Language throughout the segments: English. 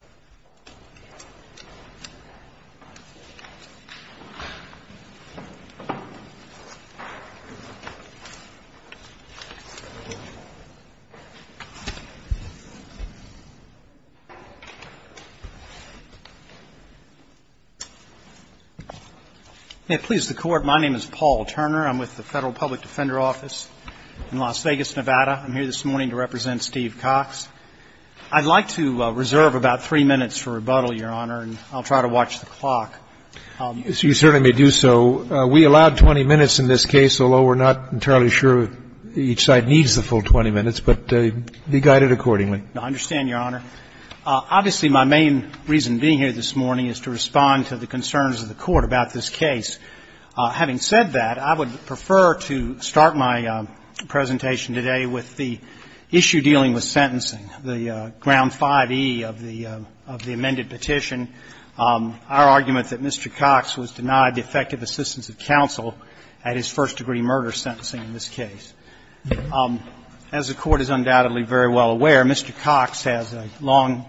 Paul Turner May it please the Court, my name is Paul Turner. I'm with the Federal Public Defender Office in Las Vegas, Nevada. I'm here this morning to represent Steve Cox. I'd like to reserve about three minutes for rebuttal, Your Honor, and I'll try to watch the clock. You certainly may do so. We allowed 20 minutes in this case, although we're not entirely sure if each side needs the full 20 minutes, but be guided accordingly. I understand, Your Honor. Obviously, my main reason being here this morning is to respond to the concerns of the Court about this case. Having said that, I would prefer to start my presentation today with the issue dealing with sentencing, the Ground 5e of the amended petition, our argument that Mr. Cox was denied the effective assistance of counsel at his first degree murder sentencing in this case. As the Court is undoubtedly very well aware, Mr. Cox has a long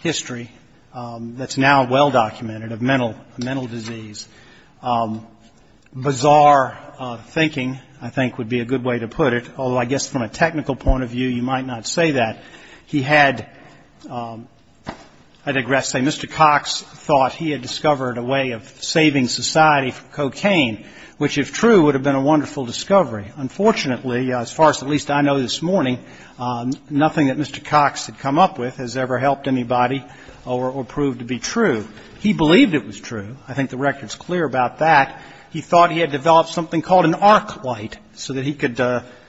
history that's now well-documented of mental disease. Bizarre thinking, I think, would be a good way to put it, although I guess from a technical point of view, you might not say that. He had, I digress, say Mr. Cox thought he had discovered a way of saving society from cocaine, which if true would have been a wonderful discovery. Unfortunately, as far as at least I know this morning, nothing that Mr. Cox had come up with has ever helped anybody or proved to be true. He believed it was true. I think the record's clear about that. He thought he had developed something called an arc light so that he could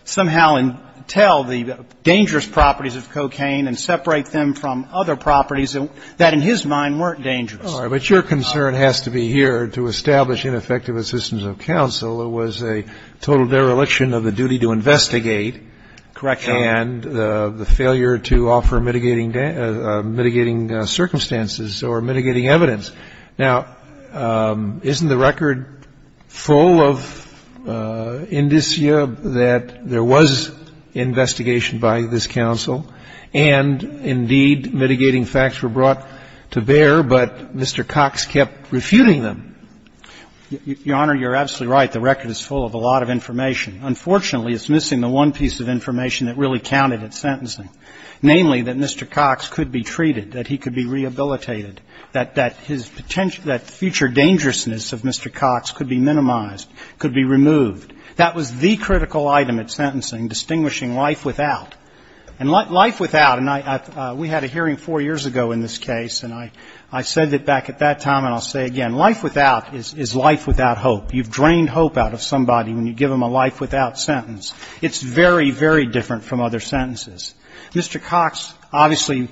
somehow tell the dangerous properties of cocaine and separate them from other properties that in his mind weren't dangerous. But your concern has to be here to establish ineffective assistance of counsel. It was a total dereliction of the duty to investigate. Correct, Your Honor. And the failure to offer mitigating circumstances or mitigating evidence. Now, isn't the record full of indicia that there was investigation by this counsel and, indeed, mitigating facts were brought to bear, but Mr. Cox kept refuting them? Your Honor, you're absolutely right. Unfortunately, it's missing the one piece of information that really counted at sentencing, namely that Mr. Cox could be treated, that he could be rehabilitated, that his future dangerousness of Mr. Cox could be minimized, could be removed. That was the critical item at sentencing, distinguishing life without. And life without, and we had a hearing four years ago in this case, and I said it back at that time and I'll say it again, life without is life without hope. You've drained hope out of somebody when you give them a life without sentence. It's very, very different from other sentences. Mr. Cox obviously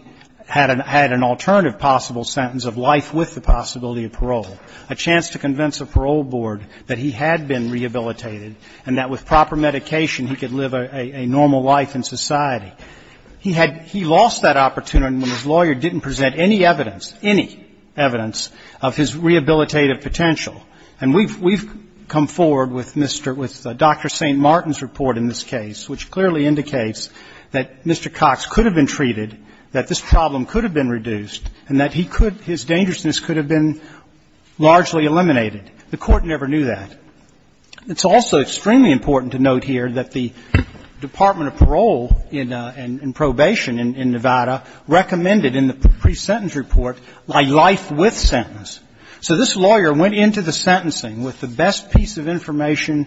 had an alternative possible sentence of life with the possibility of parole, a chance to convince a parole board that he had been rehabilitated and that with proper medication he could live a normal life in society. He had he lost that opportunity when his lawyer didn't present any evidence, any evidence, of his rehabilitative potential. And we've come forward with Dr. St. Martin's report in this case, which clearly indicates that Mr. Cox could have been treated, that this problem could have been reduced, and that his dangerousness could have been largely eliminated. The Court never knew that. It's also extremely important to note here that the Department of Parole and Probation in Nevada recommended in the pre-sentence report a life with sentence. So this lawyer went into the sentencing with the best piece of information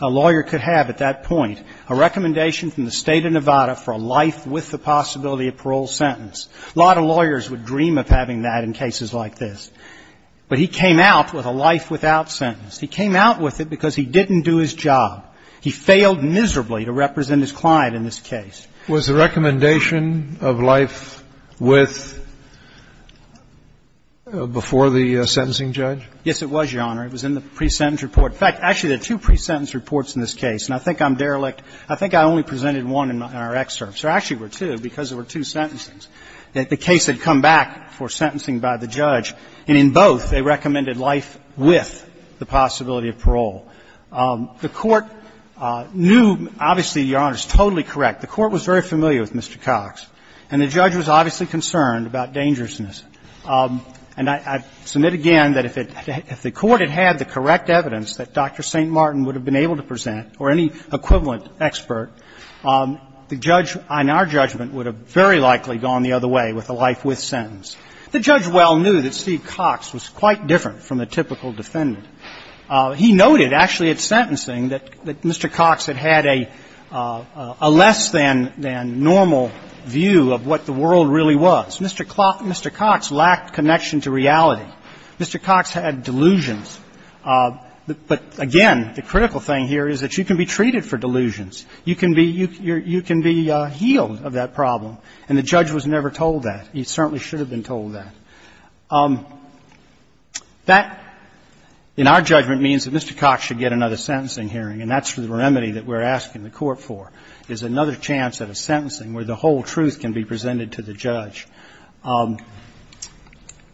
a lawyer could have at that point, a recommendation from the State of Nevada for a life with the possibility of parole sentence. A lot of lawyers would dream of having that in cases like this. But he came out with a life without sentence. He came out with it because he didn't do his job. He failed miserably to represent his client in this case. Was the recommendation of life with before the sentencing judge? Yes, it was, Your Honor. It was in the pre-sentence report. In fact, actually, there are two pre-sentence reports in this case. And I think I'm derelict. I think I only presented one in our excerpts. There actually were two because there were two sentences. The case had come back for sentencing by the judge. And in both, they recommended life with the possibility of parole. The Court knew, obviously, Your Honor, it's totally correct. The Court was very familiar with Mr. Cox. And the judge was obviously concerned about dangerousness. And I submit again that if the Court had had the correct evidence that Dr. St. Martin would have been able to present or any equivalent expert, the judge on our judgment would have very likely gone the other way with a life with sentence. The judge well knew that Steve Cox was quite different from a typical defendant. He noted actually at sentencing that Mr. Cox had had a less than normal view of what the world really was. Mr. Cox lacked connection to reality. Mr. Cox had delusions. But again, the critical thing here is that you can be treated for delusions. You can be healed of that problem. And the judge was never told that. He certainly should have been told that. That, in our judgment, means that Mr. Cox should get another sentencing hearing. And that's the remedy that we're asking the Court for, is another chance at a sentencing where the whole truth can be presented to the judge.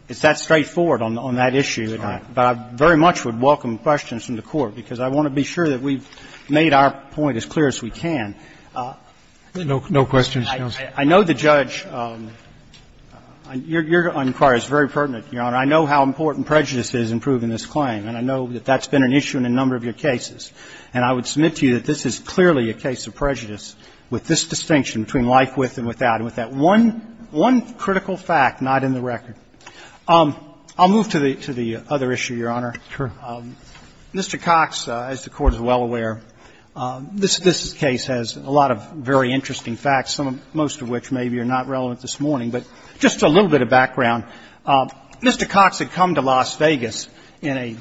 It's that straightforward on that issue. But I very much would welcome questions from the Court, because I want to be sure that we've made our point as clear as we can. No questions, counsel. I know the judge, your inquiry is very pertinent, Your Honor. I know how important prejudice is in proving this claim. And I know that that's been an issue in a number of your cases. And I would submit to you that this is clearly a case of prejudice, with this distinction between life with and without, and with that one critical fact not in the record. I'll move to the other issue, Your Honor. Mr. Cox, as the Court is well aware, this case has a lot of very interesting facts, most of which maybe are not relevant this morning. But just a little bit of background. Mr. Cox had come to Las Vegas in a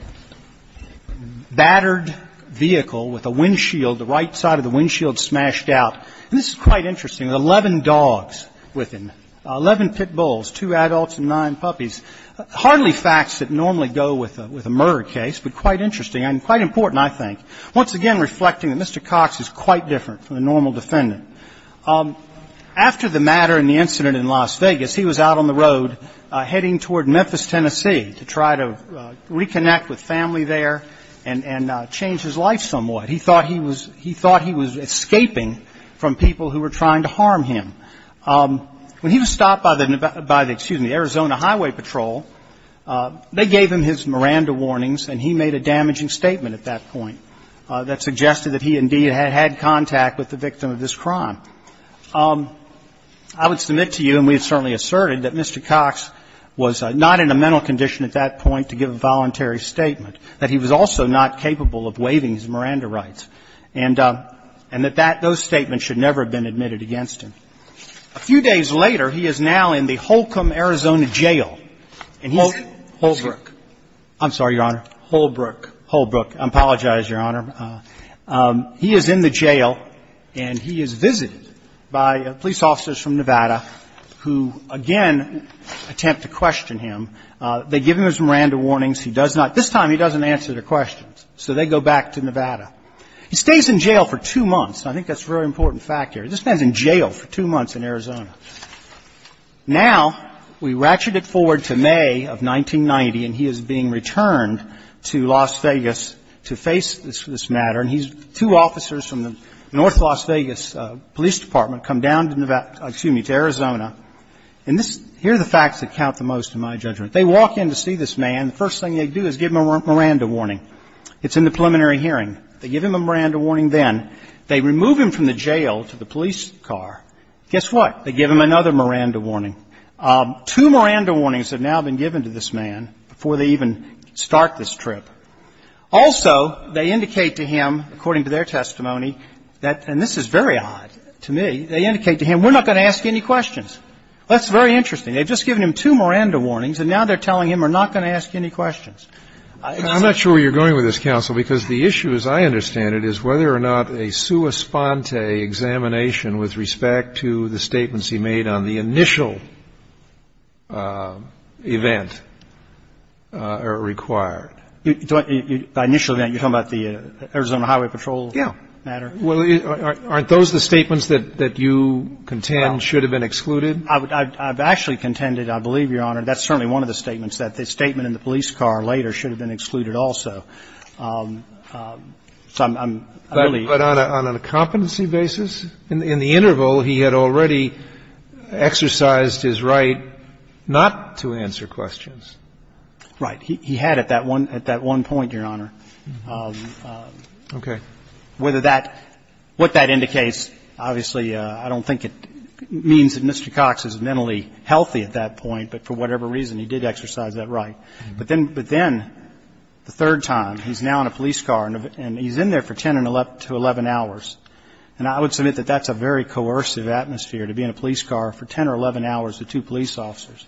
battered vehicle with a windshield, the right side of the windshield smashed out. And this is quite interesting. There were 11 dogs with him, 11 pit bulls, two adults and nine puppies. Hardly facts that normally go with a murder case, but quite interesting and quite important, I think. Once again, reflecting that Mr. Cox is quite different from a normal defendant. After the matter and the incident in Las Vegas, he was out on the road heading toward Memphis, Tennessee, to try to reconnect with family there and change his life somewhat. He thought he was escaping from people who were trying to harm him. When he was stopped by the, excuse me, the Arizona Highway Patrol, they gave him his Miranda warnings, and he made a damaging statement at that point that suggested that he indeed had had contact with the victim of this crime. I would submit to you, and we have certainly asserted, that Mr. Cox was not in a mental condition at that point to give a voluntary statement, that he was also not capable of waiving his Miranda rights, and that that, those statements should never have been admitted against him. A few days later, he is now in the Holcomb, Arizona, jail. And he's in Holbrook. I'm sorry, Your Honor. Holbrook. Holbrook. I apologize, Your Honor. He is in the jail, and he is visited by police officers from Nevada who, again, attempt to question him. They give him his Miranda warnings. He does not. This time, he doesn't answer their questions, so they go back to Nevada. He stays in jail for two months. I think that's a very important fact here. This man's in jail for two months in Arizona. Now, we ratchet it forward to May of 1990, and he is being returned to Las Vegas to face this matter. And two officers from the North Las Vegas Police Department come down to Nevada to Arizona. And here are the facts that count the most in my judgment. They walk in to see this man. The first thing they do is give him a Miranda warning. It's in the preliminary hearing. They give him a Miranda warning then. They remove him from the jail to the police car. Guess what? They give him another Miranda warning. Two Miranda warnings have now been given to this man before they even start this trip. Also, they indicate to him, according to their testimony, that, and this is very odd to me, they indicate to him, we're not going to ask any questions. That's very interesting. They've just given him two Miranda warnings, and now they're telling him we're not going to ask any questions. I'm not sure where you're going with this, counsel, because the issue, as I understand it, is whether or not a sua sponte examination with respect to the statements he made on the initial event are required. By initial event, you're talking about the Arizona Highway Patrol matter? Yeah. Well, aren't those the statements that you contend should have been excluded? I've actually contended, I believe, Your Honor, that's certainly one of the statements, that the statement in the police car later should have been excluded also. I believe. But on a competency basis? In the interval, he had already exercised his right not to answer questions. Right. He had at that one point, Your Honor. Okay. Whether that, what that indicates, obviously, I don't think it means that Mr. Cox is mentally healthy at that point, but for whatever reason, he did exercise that right. But then, the third time, he's now in a police car, and he's in there for 10 to 11 hours. And I would submit that that's a very coercive atmosphere, to be in a police car for 10 or 11 hours with two police officers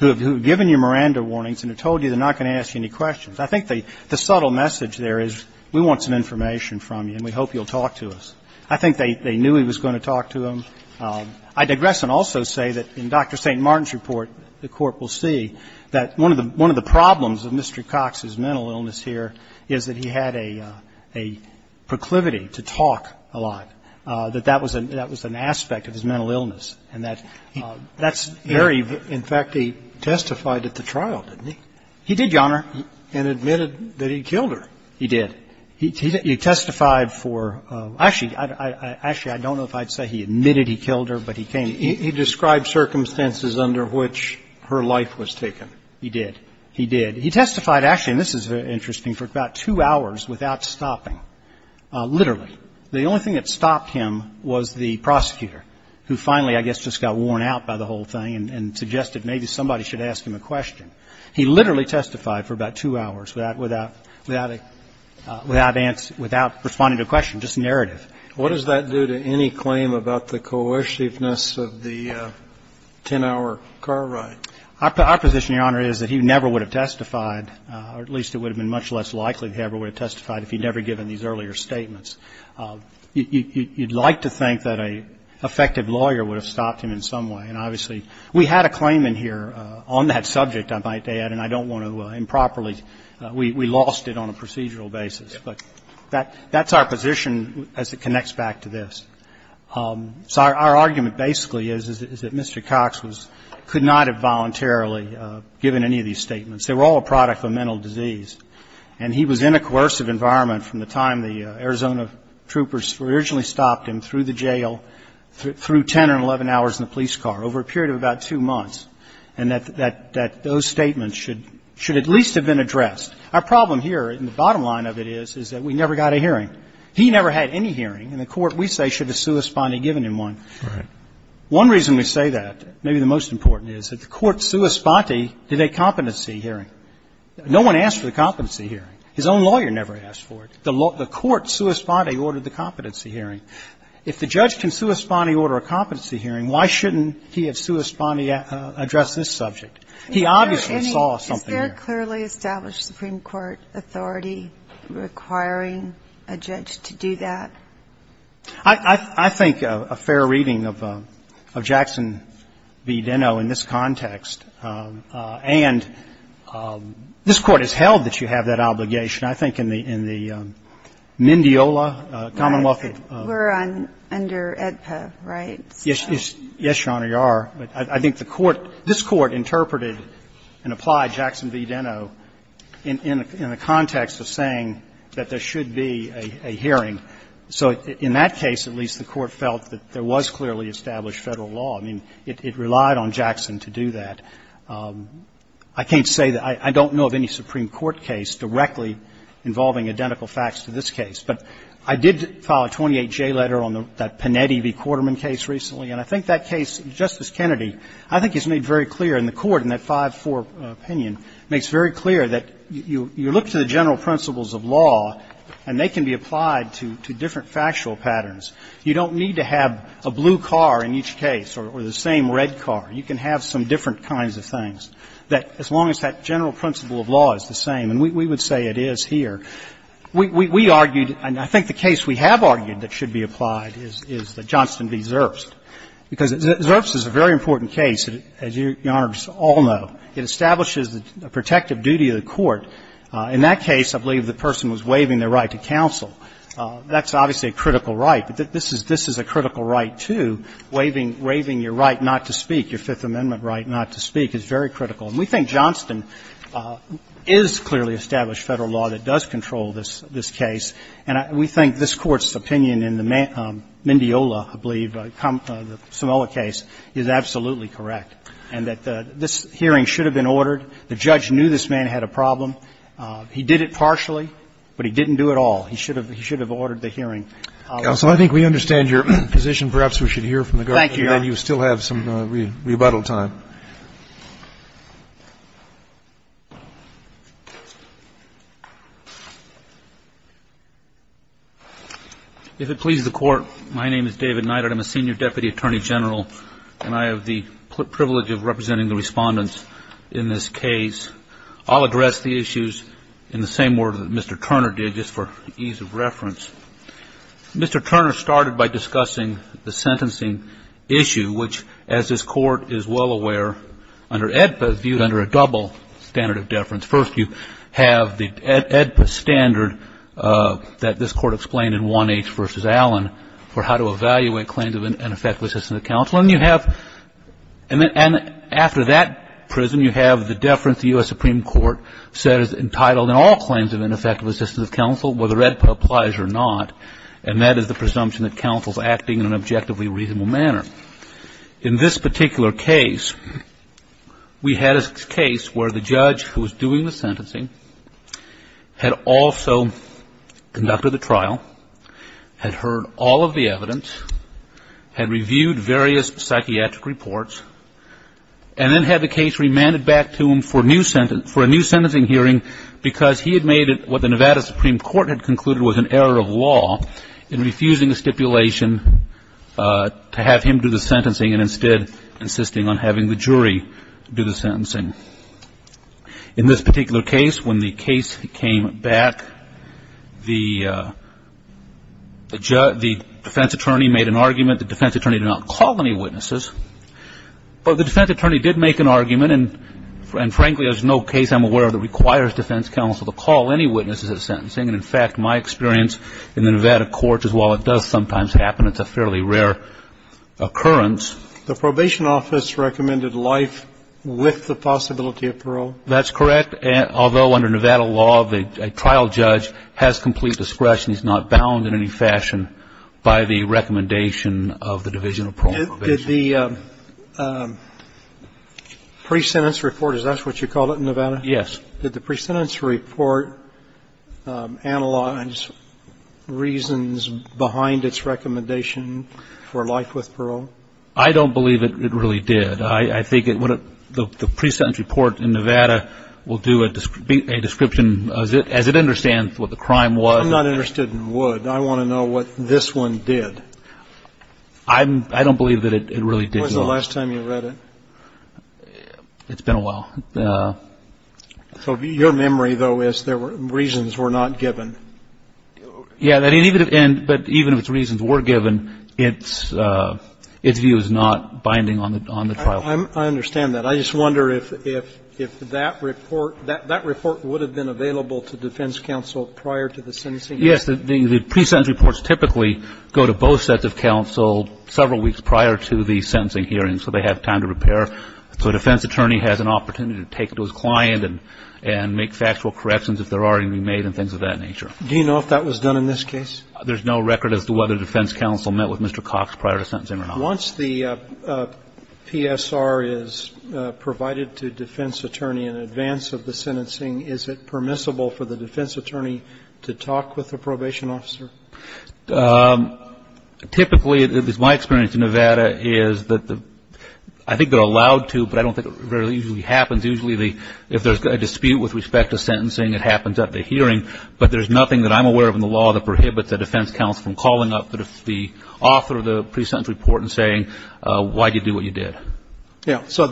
who have given you Miranda warnings and have told you they're not going to ask you any questions. I think the subtle message there is we want some information from you, and we hope you'll talk to us. I think they knew he was going to talk to them. I digress and also say that in Dr. St. Martin's report, the Court will see that one of the problems of Mr. Cox's mental illness here is that he had a proclivity to talk a lot, that that was an aspect of his mental illness. And that's very, in fact, he testified at the trial, didn't he? He did, Your Honor. And admitted that he killed her. He did. He testified for, actually, I don't know if I'd say he admitted he killed her, but he came. He described circumstances under which her life was taken. He did. He did. He testified, actually, and this is interesting, for about two hours without stopping, literally. The only thing that stopped him was the prosecutor, who finally, I guess, just got worn out by the whole thing and suggested maybe somebody should ask him a question. He literally testified for about two hours without responding to a question, just a narrative. What does that do to any claim about the coerciveness of the 10-hour car ride? Our position, Your Honor, is that he never would have testified, or at least it would have been much less likely he ever would have testified if he'd never given these earlier statements. You'd like to think that an effective lawyer would have stopped him in some way. And obviously, we had a claimant here on that subject, I might add, and I don't want to improperly we lost it on a procedural basis. But that's our position as it connects back to this. So our argument basically is that Mr. Cox could not have voluntarily given any of these statements. They were all a product of mental disease. And he was in a coercive environment from the time the Arizona troopers originally stopped him through the jail, through 10 or 11 hours in the police car, over a period of about two months, and that those statements should at least have been addressed. Our problem here, and the bottom line of it is, is that we never got a hearing. He never had any hearing. And the court, we say, should have sui sponte given him one. Right. One reason we say that, maybe the most important, is that the court sui sponte did a competency hearing. No one asked for the competency hearing. His own lawyer never asked for it. The court sui sponte ordered the competency hearing. If the judge can sui sponte order a competency hearing, why shouldn't he have sui sponte addressed this subject? He obviously saw something here. I think a fair reading of Jackson v. Deno in this context, and this Court has held that you have that obligation. I think in the Mendiola, Commonwealth of. We're under AEDPA, right? Yes, Your Honor, you are. But I think the Court, this Court, interpreted and applied Jackson v. Deno in this context. I don't know of any Supreme Court case directly involving identical facts to this case. But I did file a 28J letter on that Panetti v. Quarterman case recently, and I think that case, Justice Kennedy, I think he's made very clear in the Court in that 5-4 facts to this case. It's very clear that you look to the general principles of law, and they can be applied to different factual patterns. You don't need to have a blue car in each case or the same red car. You can have some different kinds of things. That as long as that general principle of law is the same, and we would say it is here, we argued, and I think the case we have argued that should be applied is the Johnston v. Zerbst, because Zerbst is a very important case, as Your Honors all know. It establishes the protective duty of the court. In that case, I believe the person was waiving their right to counsel. That's obviously a critical right. This is a critical right, too. Waiving your right not to speak, your Fifth Amendment right not to speak, is very critical. And we think Johnston is clearly established Federal law that does control this case, and we think this Court's opinion in the Mendiola, I believe, the Sumola case, is absolutely correct, and that this hearing should have been ordered. The judge knew this man had a problem. He did it partially, but he didn't do it all. He should have ordered the hearing. Roberts. Counsel, I think we understand your position. Perhaps we should hear from the guard. Thank you, Your Honor. And then you still have some rebuttal time. If it pleases the Court, my name is David Neidert. I'm a senior deputy attorney general, and I have the privilege of representing the respondents in this case. I'll address the issues in the same order that Mr. Turner did, just for ease of reference. Mr. Turner started by discussing the sentencing issue, which, as this Court is well aware, under AEDPA is viewed under a double standard of deference. First, you have the AEDPA standard that this Court explained in 1H v. Allen for how to evaluate claims of ineffective assistance of counsel. And you have, and after that prism, you have the deference the U.S. Supreme Court says is entitled in all claims of ineffective assistance of counsel, whether AEDPA applies or not, and that is the presumption that counsel is acting in an objectively reasonable manner. In this particular case, we had a case where the judge who was doing the sentencing had also conducted the trial, had heard all of the evidence, had reviewed various psychiatric reports, and then had the case remanded back to him for a new sentencing hearing because he had made what the Nevada Supreme Court had concluded was an error of law in refusing the stipulation to have him do the sentencing and instead insisting on having the jury do the sentencing. In this particular case, when the case came back, the defense attorney made an argument that the defense attorney did not call any witnesses, but the defense attorney did make an argument, and frankly, there's no case I'm aware of that requires defense counsel to call any witnesses at sentencing, and in fact, my experience in the Nevada courts is while it does sometimes happen, it's a fairly rare occurrence. The probation office recommended life with the possibility of parole? That's correct, although under Nevada law, a trial judge has complete discretion, he's not bound in any fashion by the recommendation of the Division of Parole and Probation. Did the pre-sentence report, is that what you called it in Nevada? Yes. Did the pre-sentence report analyze reasons behind its recommendation for life with parole? I don't believe it really did. I think the pre-sentence report in Nevada will do a description as it understands what the crime was. I'm not interested in would. I want to know what this one did. I don't believe that it really did. When was the last time you read it? It's been a while. So your memory, though, is there were reasons were not given? Yeah. But even if its reasons were given, its view is not binding on the trial. I understand that. I just wonder if that report would have been available to defense counsel prior to the sentencing hearing. Yes. The pre-sentence reports typically go to both sets of counsel several weeks prior to the sentencing hearing, so they have time to repair. So a defense attorney has an opportunity to take it to his client and make factual corrections if there are any made and things of that nature. Do you know if that was done in this case? There's no record as to whether defense counsel met with Mr. Cox prior to sentencing or not. Once the PSR is provided to defense attorney in advance of the sentencing, is it permissible for the defense attorney to talk with the probation officer? Typically, it is my experience in Nevada is that the – I think they're allowed to, but I don't think it really usually happens. Usually, if there's a dispute with respect to sentencing, it happens at the hearing. But there's nothing that I'm aware of in the law that prohibits a defense counsel from calling up the author of the pre-sentence report and saying, why did you do what you did? Yes. So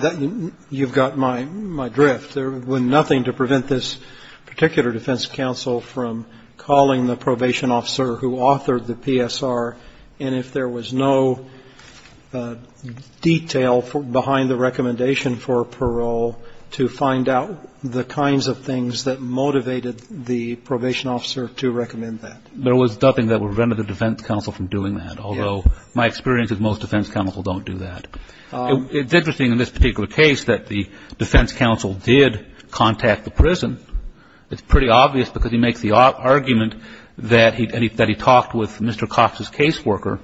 you've got my drift. There was nothing to prevent this particular defense counsel from calling the probation officer who authored the PSR. And if there was no detail behind the recommendation for parole to find out the kinds of things that motivated the probation officer to recommend that. There was nothing that would prevent the defense counsel from doing that, although my experience is most defense counsel don't do that. It's interesting in this particular case that the defense counsel did contact the prison. It's pretty obvious because he makes the argument that he talked with Mr. Cox's caseworker,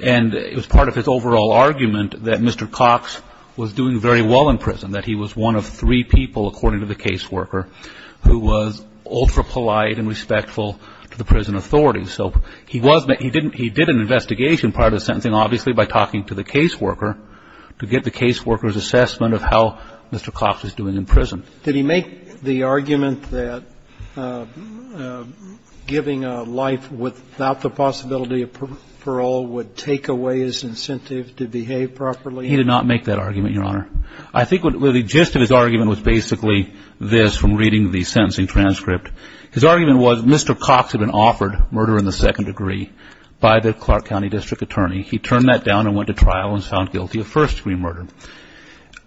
and it was part of his overall argument that Mr. Cox was doing very well in prison, that he was one of three people, according to the caseworker, who was ultra-polite and respectful to the prison authorities. So he did an investigation prior to the sentencing, obviously, by talking to the caseworker to get the caseworker's assessment of how Mr. Cox was doing in prison. Did he make the argument that giving a life without the possibility of parole would take away his incentive to behave properly? He did not make that argument, Your Honor. I think the gist of his argument was basically this from reading the sentencing transcript. His argument was Mr. Cox had been offered murder in the second degree by the Clark County District Attorney. He turned that down and went to trial and found guilty of first-degree murder.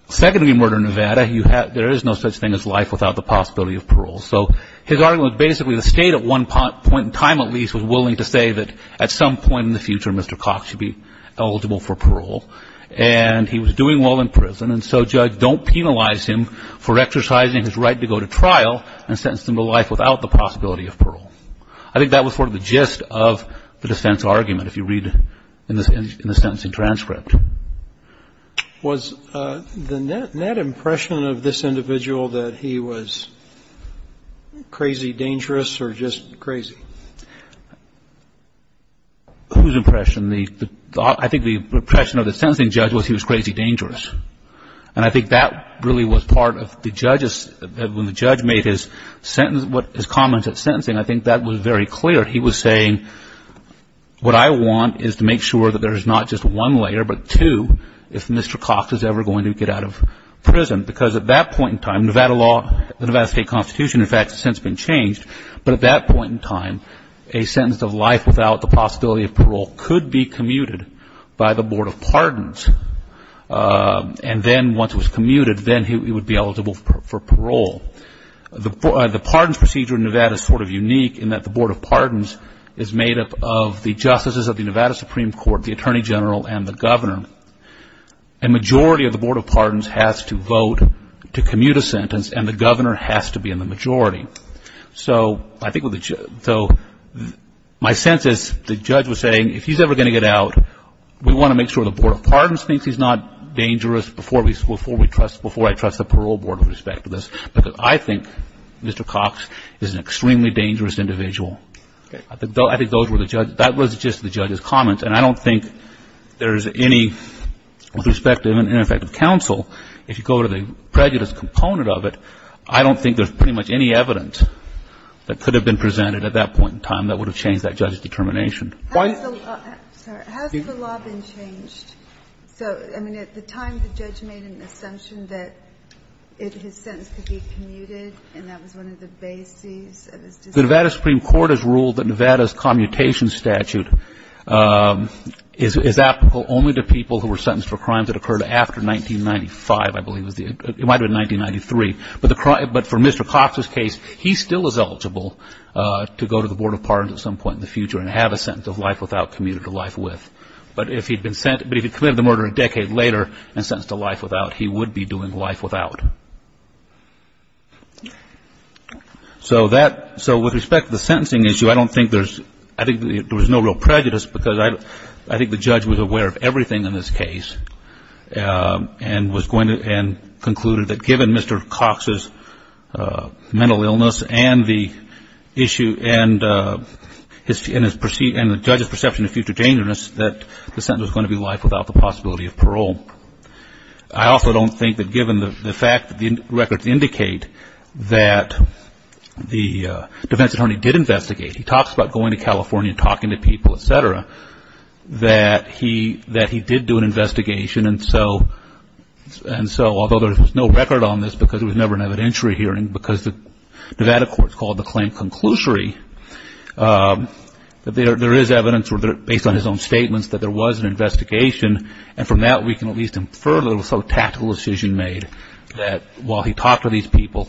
Second-degree murder in Nevada, there is no such thing as life without the possibility of parole. So his argument was basically the State at one point in time at least was willing to say that at some point in the future Mr. Cox should be eligible for parole, and he was doing well in prison, and so, Judge, don't penalize him for exercising his right to go to trial and sentence him to life without the possibility of parole. I think that was sort of the gist of the defense argument, if you read in the sentencing transcript. Was the net impression of this individual that he was crazy dangerous or just crazy? Whose impression? I think the impression of the sentencing judge was he was crazy dangerous, and I think that really was part of the judge's, when the judge made his comment at sentencing, I think that was very clear. He was saying, what I want is to make sure that there is not just one layer, but two, if Mr. Cox is ever going to get out of prison, because at that point in time, Nevada law, the Nevada State Constitution in fact has since been changed, but at that point in time, a sentence of life without the possibility of parole could be commuted by the Board of Pardons, and then once it was commuted, then he would be eligible for parole. The pardons procedure in Nevada is sort of unique in that the Board of Pardons is made up of the justices of the Nevada Supreme Court, the Attorney General, and the Governor. A majority of the Board of Pardons has to vote to commute a sentence, and the Governor has to be in the majority. So my sense is the judge was saying, if he's ever going to get out, we want to make sure the Board of Pardons thinks he's not dangerous before I trust the Parole Board with respect to this, because I think Mr. Cox is an extremely dangerous individual. I think those were the judge's, that was just the judge's comments, and I don't think there's any, with respect to ineffective counsel, if you go to the prejudice component of it, I don't think there's pretty much any evidence that could have been presented at that point in time that would have changed that judge's determination. Has the law been changed? So, I mean, at the time the judge made an assumption that his sentence could be commuted, and that was one of the bases of his decision? The Nevada Supreme Court has ruled that Nevada's commutation statute is applicable only to people who were sentenced for crimes that occurred after 1995, I believe, it might have been 1993. But for Mr. Cox's case, he still is eligible to go to the Board of Pardons at some point in the future and have a sentence of life without commuted to life with. But if he'd committed the murder a decade later and sentenced to life without, he would be doing life without. So that, so with respect to the sentencing issue, I don't think there's, I think there was no real prejudice, because I think the judge was aware of everything in this case, and was going to, and concluded that given Mr. Cox's mental illness and the issue and the judge's perception of future dangerousness, that the sentence was going to be life without the possibility of parole. I also don't think that given the fact that the records indicate that the defense attorney did investigate, he talks about going to California and talking to people, et cetera, that he did do an investigation. And so although there's no record on this, because it was never an evidentiary hearing, because the Nevada court called the claim conclusory, that there is evidence, or based on his own statements, that there was an investigation. And from that, we can at least infer that it was some tactical decision made, that while he talked to these people,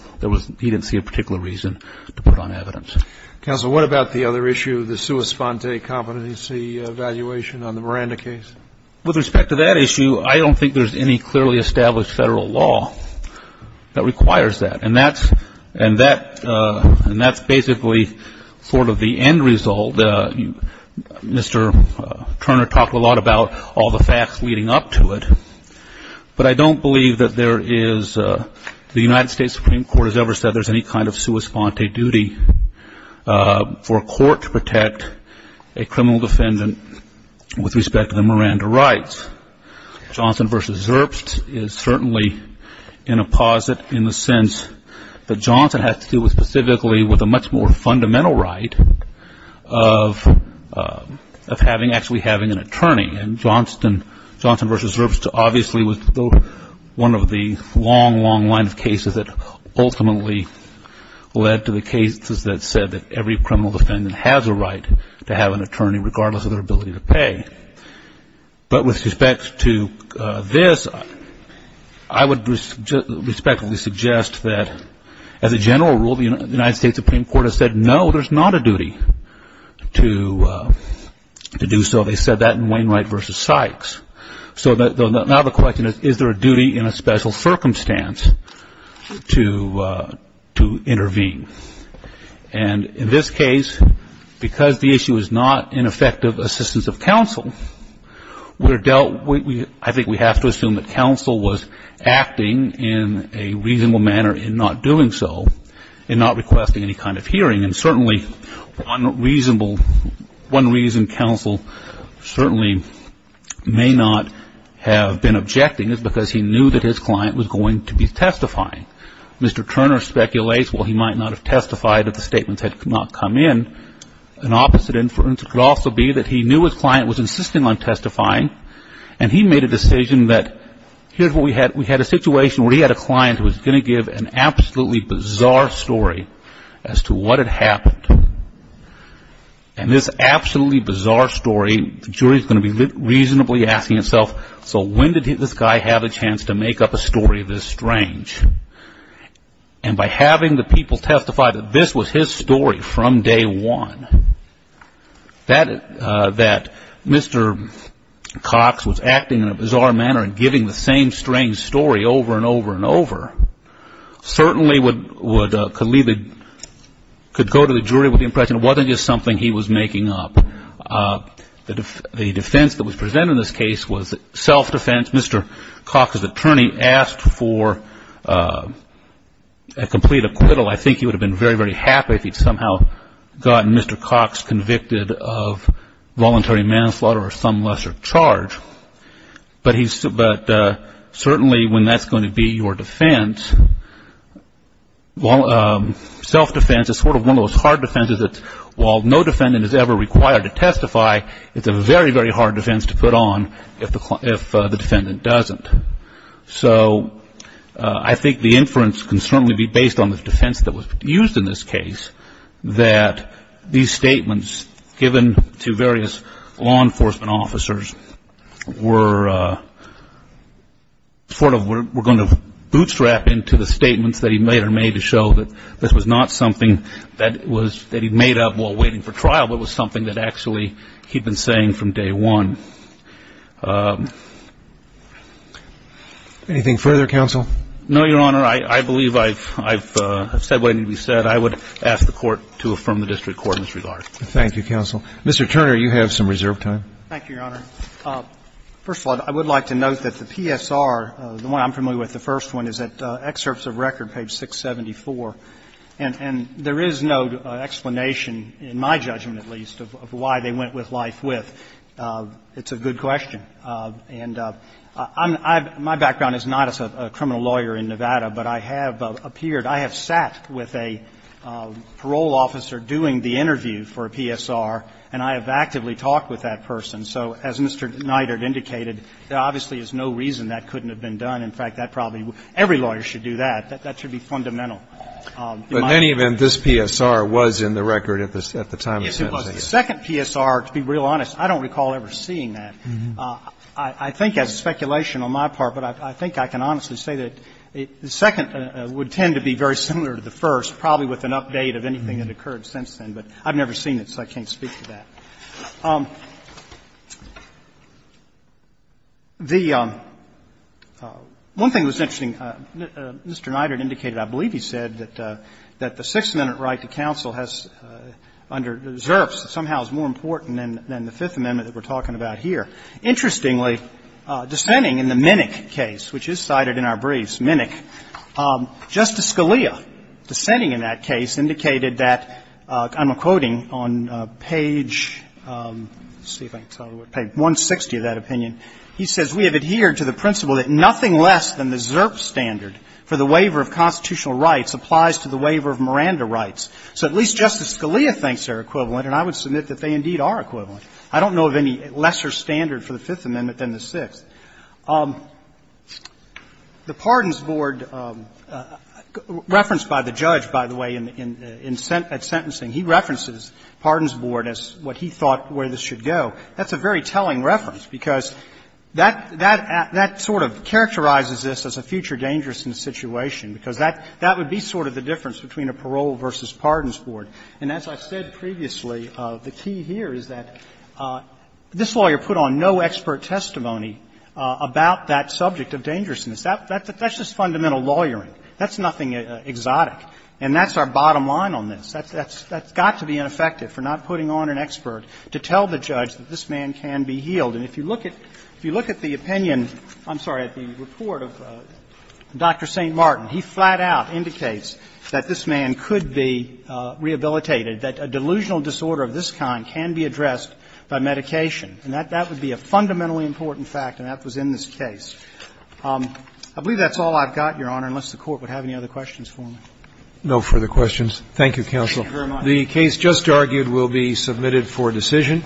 he didn't see a particular reason to put on evidence. Counsel, what about the other issue, the sua sponte competency evaluation on the Miranda case? With respect to that issue, I don't think there's any clearly established Federal law that requires that. And that's basically sort of the end result. Mr. Turner talked a lot about all the facts leading up to it. But I don't believe that there is, the United States Supreme Court has ever said there's any kind of sua sponte duty for a court to protect a criminal defendant with respect to the Miranda rights. Johnston v. Zerbst is certainly in a posit in the sense that Johnston has to do specifically with a much more fundamental right of actually having an attorney. And Johnston v. Zerbst obviously was one of the long, long lines of cases that ultimately led to the cases that said that every criminal defendant has a right to have an attorney, regardless of their ability to pay. But with respect to this, I would respectfully suggest that, as a general rule, the United States Supreme Court has said, no, there's not a duty to do so. They said that in Wainwright v. Sykes. So now the question is, is there a duty in a special circumstance to intervene? And in this case, because the issue is not an effective assistance of counsel, I think we have to assume that counsel was acting in a reasonable manner in not doing so and not requesting any kind of hearing. And certainly one reason counsel certainly may not have been objecting is because he knew that his client was going to be testifying. Mr. Turner speculates, while he might not have testified if the statements had not come in, an opposite inference could also be that he knew his client was insisting on testifying and he made a decision that here's what we had. We had a situation where he had a client who was going to give an absolutely bizarre story as to what had happened. And this absolutely bizarre story, the jury is going to be reasonably asking itself, so when did this guy have a chance to make up a story this strange? And by having the people testify that this was his story from day one, that Mr. Cox was acting in a bizarre manner and giving the same strange story over and over and over, certainly could go to the jury with the impression it wasn't just something he was making up. The defense that was presented in this case was self-defense. Mr. Cox's attorney asked for a complete acquittal. I think he would have been very, very happy if he had somehow gotten Mr. Cox convicted of voluntary manslaughter or some lesser charge. But certainly when that's going to be your defense, self-defense is sort of one of those hard defenses that while no defendant is ever required to testify, it's a very, very hard defense to put on if the defendant doesn't. So I think the inference can certainly be based on the defense that was used in this case, that these statements given to various law enforcement officers were sort of going to bootstrap into the statements that he later made to show that this was not something that he made up while waiting for trial, but was something that actually he'd been saying from day one. Anything further, counsel? No, Your Honor. I believe I've said what needed to be said. I would ask the Court to affirm the district court in this regard. Thank you, counsel. Mr. Turner, you have some reserve time. Thank you, Your Honor. First of all, I would like to note that the PSR, the one I'm familiar with, the first one, is at excerpts of record, page 674, and there is no explanation, in my judgment at least, of why they went with life with. It's a good question. And my background is not as a criminal lawyer in Nevada, but I have appeared I have sat with a parole officer doing the interview for a PSR, and I have actively talked with that person. So as Mr. Neidert indicated, there obviously is no reason that couldn't have been done. In fact, that probably every lawyer should do that. That should be fundamental. But in any event, this PSR was in the record at the time of sentencing. Yes, it was. The second PSR, to be real honest, I don't recall ever seeing that. I think that's speculation on my part, but I think I can honestly say that the second would tend to be very similar to the first, probably with an update of anything that occurred since then, but I've never seen it, so I can't speak to that. The one thing that's interesting, Mr. Neidert indicated, I believe he said, that the Sixth Amendment right to counsel has, under the reserves, somehow is more important than the Fifth Amendment that we're talking about here. Interestingly, dissenting in the Minnick case, which is cited in our briefs, Minnick, Justice Scalia, dissenting in that case, indicated that, I'm quoting on page, let's see if I can tell the word, page 160 of that opinion, he says, We have adhered to the principle that nothing less than the Zerp standard for the waiver of constitutional rights applies to the waiver of Miranda rights. So at least Justice Scalia thinks they're equivalent, and I would submit that they indeed are equivalent. I don't know of any lesser standard for the Fifth Amendment than the Sixth. The Pardons Board, referenced by the judge, by the way, in sentencing, he references Pardons Board as what he thought where this should go. That's a very telling reference, because that sort of characterizes this as a future dangerousness situation, because that would be sort of the difference between a parole versus Pardons Board. And as I've said previously, the key here is that this lawyer put on no expert testimony about that subject of dangerousness. That's just fundamental lawyering. That's nothing exotic. And that's our bottom line on this. That's got to be ineffective for not putting on an expert to tell the judge that this man can be healed. And if you look at the opinion, I'm sorry, at the report of Dr. St. Martin, he flat out indicates that this man could be rehabilitated, that a delusional disorder of this kind can be addressed by medication. And that would be a fundamentally important fact, and that was in this case. I believe that's all I've got, Your Honor, unless the Court would have any other questions for me. Roberts. No further questions. Thank you, counsel. The case just argued will be submitted for decision.